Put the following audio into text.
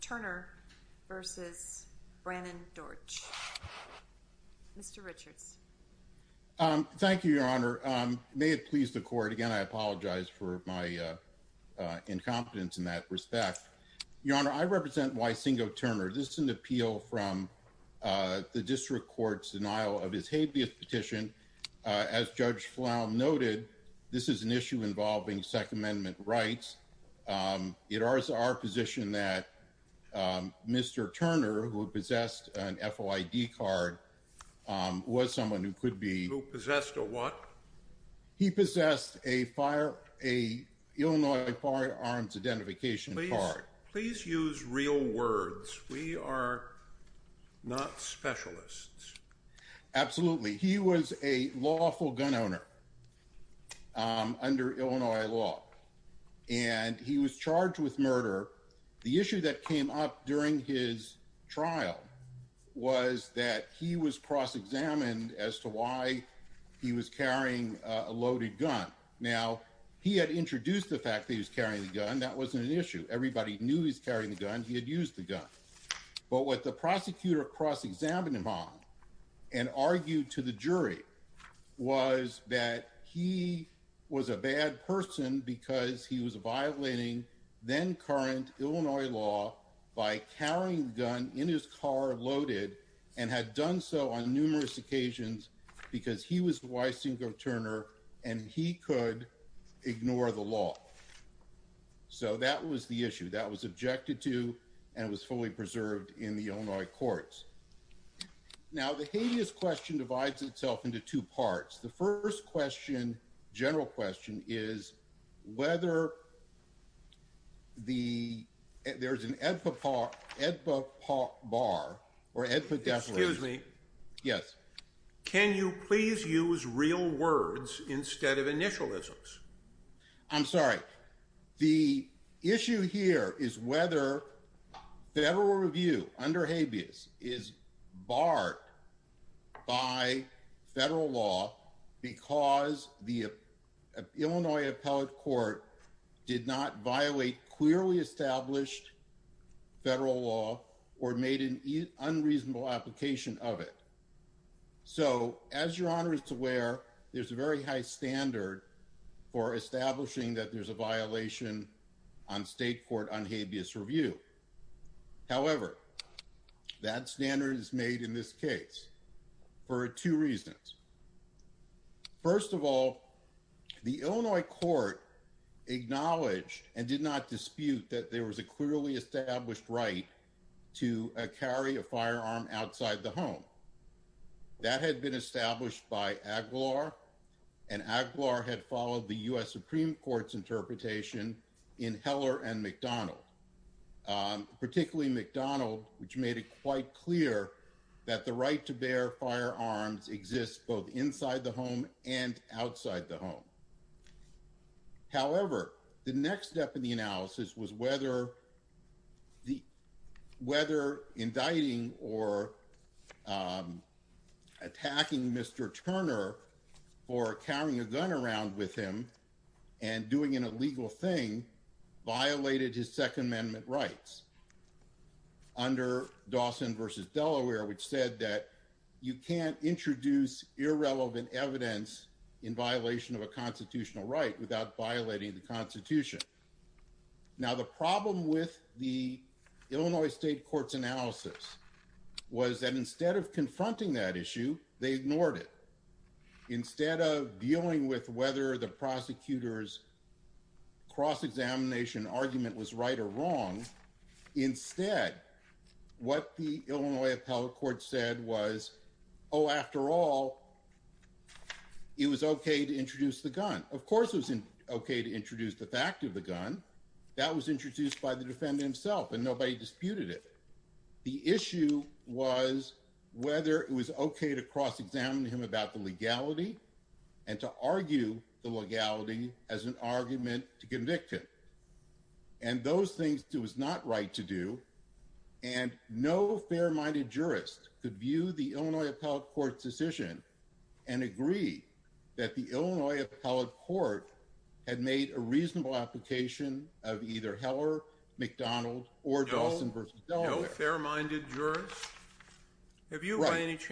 Thank you, Your Honor. May it please the Court, again I apologize for my incompetence in that respect. Your Honor, I represent Wysingo Turner. This is an appeal from the District Court's denial of his habeas petition. As Judge Flown noted, this is an issue involving Second Amendment rights. It is our position that Mr. Turner, who possessed an FOID card, was someone who could be... Who possessed a what? He possessed an Illinois Firearms Identification Card. Please use real words. We are not specialists. Absolutely. He was a lawful gun owner under Illinois law, and he was charged with murder. The issue that came up during his trial was that he was cross-examined as to why he was carrying a loaded gun. Now, he had introduced the fact that he was carrying the gun. That wasn't an issue. Everybody knew he was carrying the gun. He had used the gun. But what the and argued to the jury was that he was a bad person because he was violating then-current Illinois law by carrying the gun in his car, loaded, and had done so on numerous occasions because he was Wysingo Turner and he could ignore the law. So that was the issue. That was objected to, and it was fully preserved in the Illinois courts. Now the habeas question divides itself into two parts. The first question, general question, is whether the... There's an EDPA bar, or EDPA definition. Excuse me. Yes. Can you please use real words instead of initialisms? I'm sorry. The issue here is whether federal review under habeas is barred by federal law because the Illinois appellate court did not violate clearly established federal law or made an unreasonable application of it. So as Your Honor is aware, there's a very high standard for establishing that there's a violation on state court on habeas review. However, that standard is made in this case for two reasons. First of all, the Illinois court acknowledged and did not dispute that there was a clearly established right to carry a firearm outside the home. That had been established by Aguilar, and Aguilar had followed the U.S. Supreme Court's interpretation in Heller and McDonald, particularly McDonald, which made it quite clear that the right to bear firearms exists both inside the home and outside the home. However, the next step in the analysis was whether the... Whether indicting or attacking Mr. Turner for carrying a gun around with him and doing an illegal thing violated his Second Amendment rights under Dawson versus Delaware, which said that you can't introduce irrelevant evidence in violation of a constitutional right without violating the Constitution. Now, the problem with the Illinois state court's analysis was that instead of confronting that issue, they ignored it. Instead of dealing with whether the prosecutor's cross-examination argument was right or wrong, instead, what the Illinois appellate court said was, oh, after all, it was okay to introduce the gun. Of course, it was okay to introduce the fact of the gun. That was introduced by the defendant himself, and nobody disputed it. The issue was whether it was okay to cross-examine him about the legality and to argue the legality as an argument to convict him. And those things it was not right to do, and no fair-minded jurist could view the Illinois appellate court's decision and agree that the Illinois appellate court had made a reasonable application of either Heller, McDonald, or Dawson versus Delaware. No fair-minded jurist? Have you run any...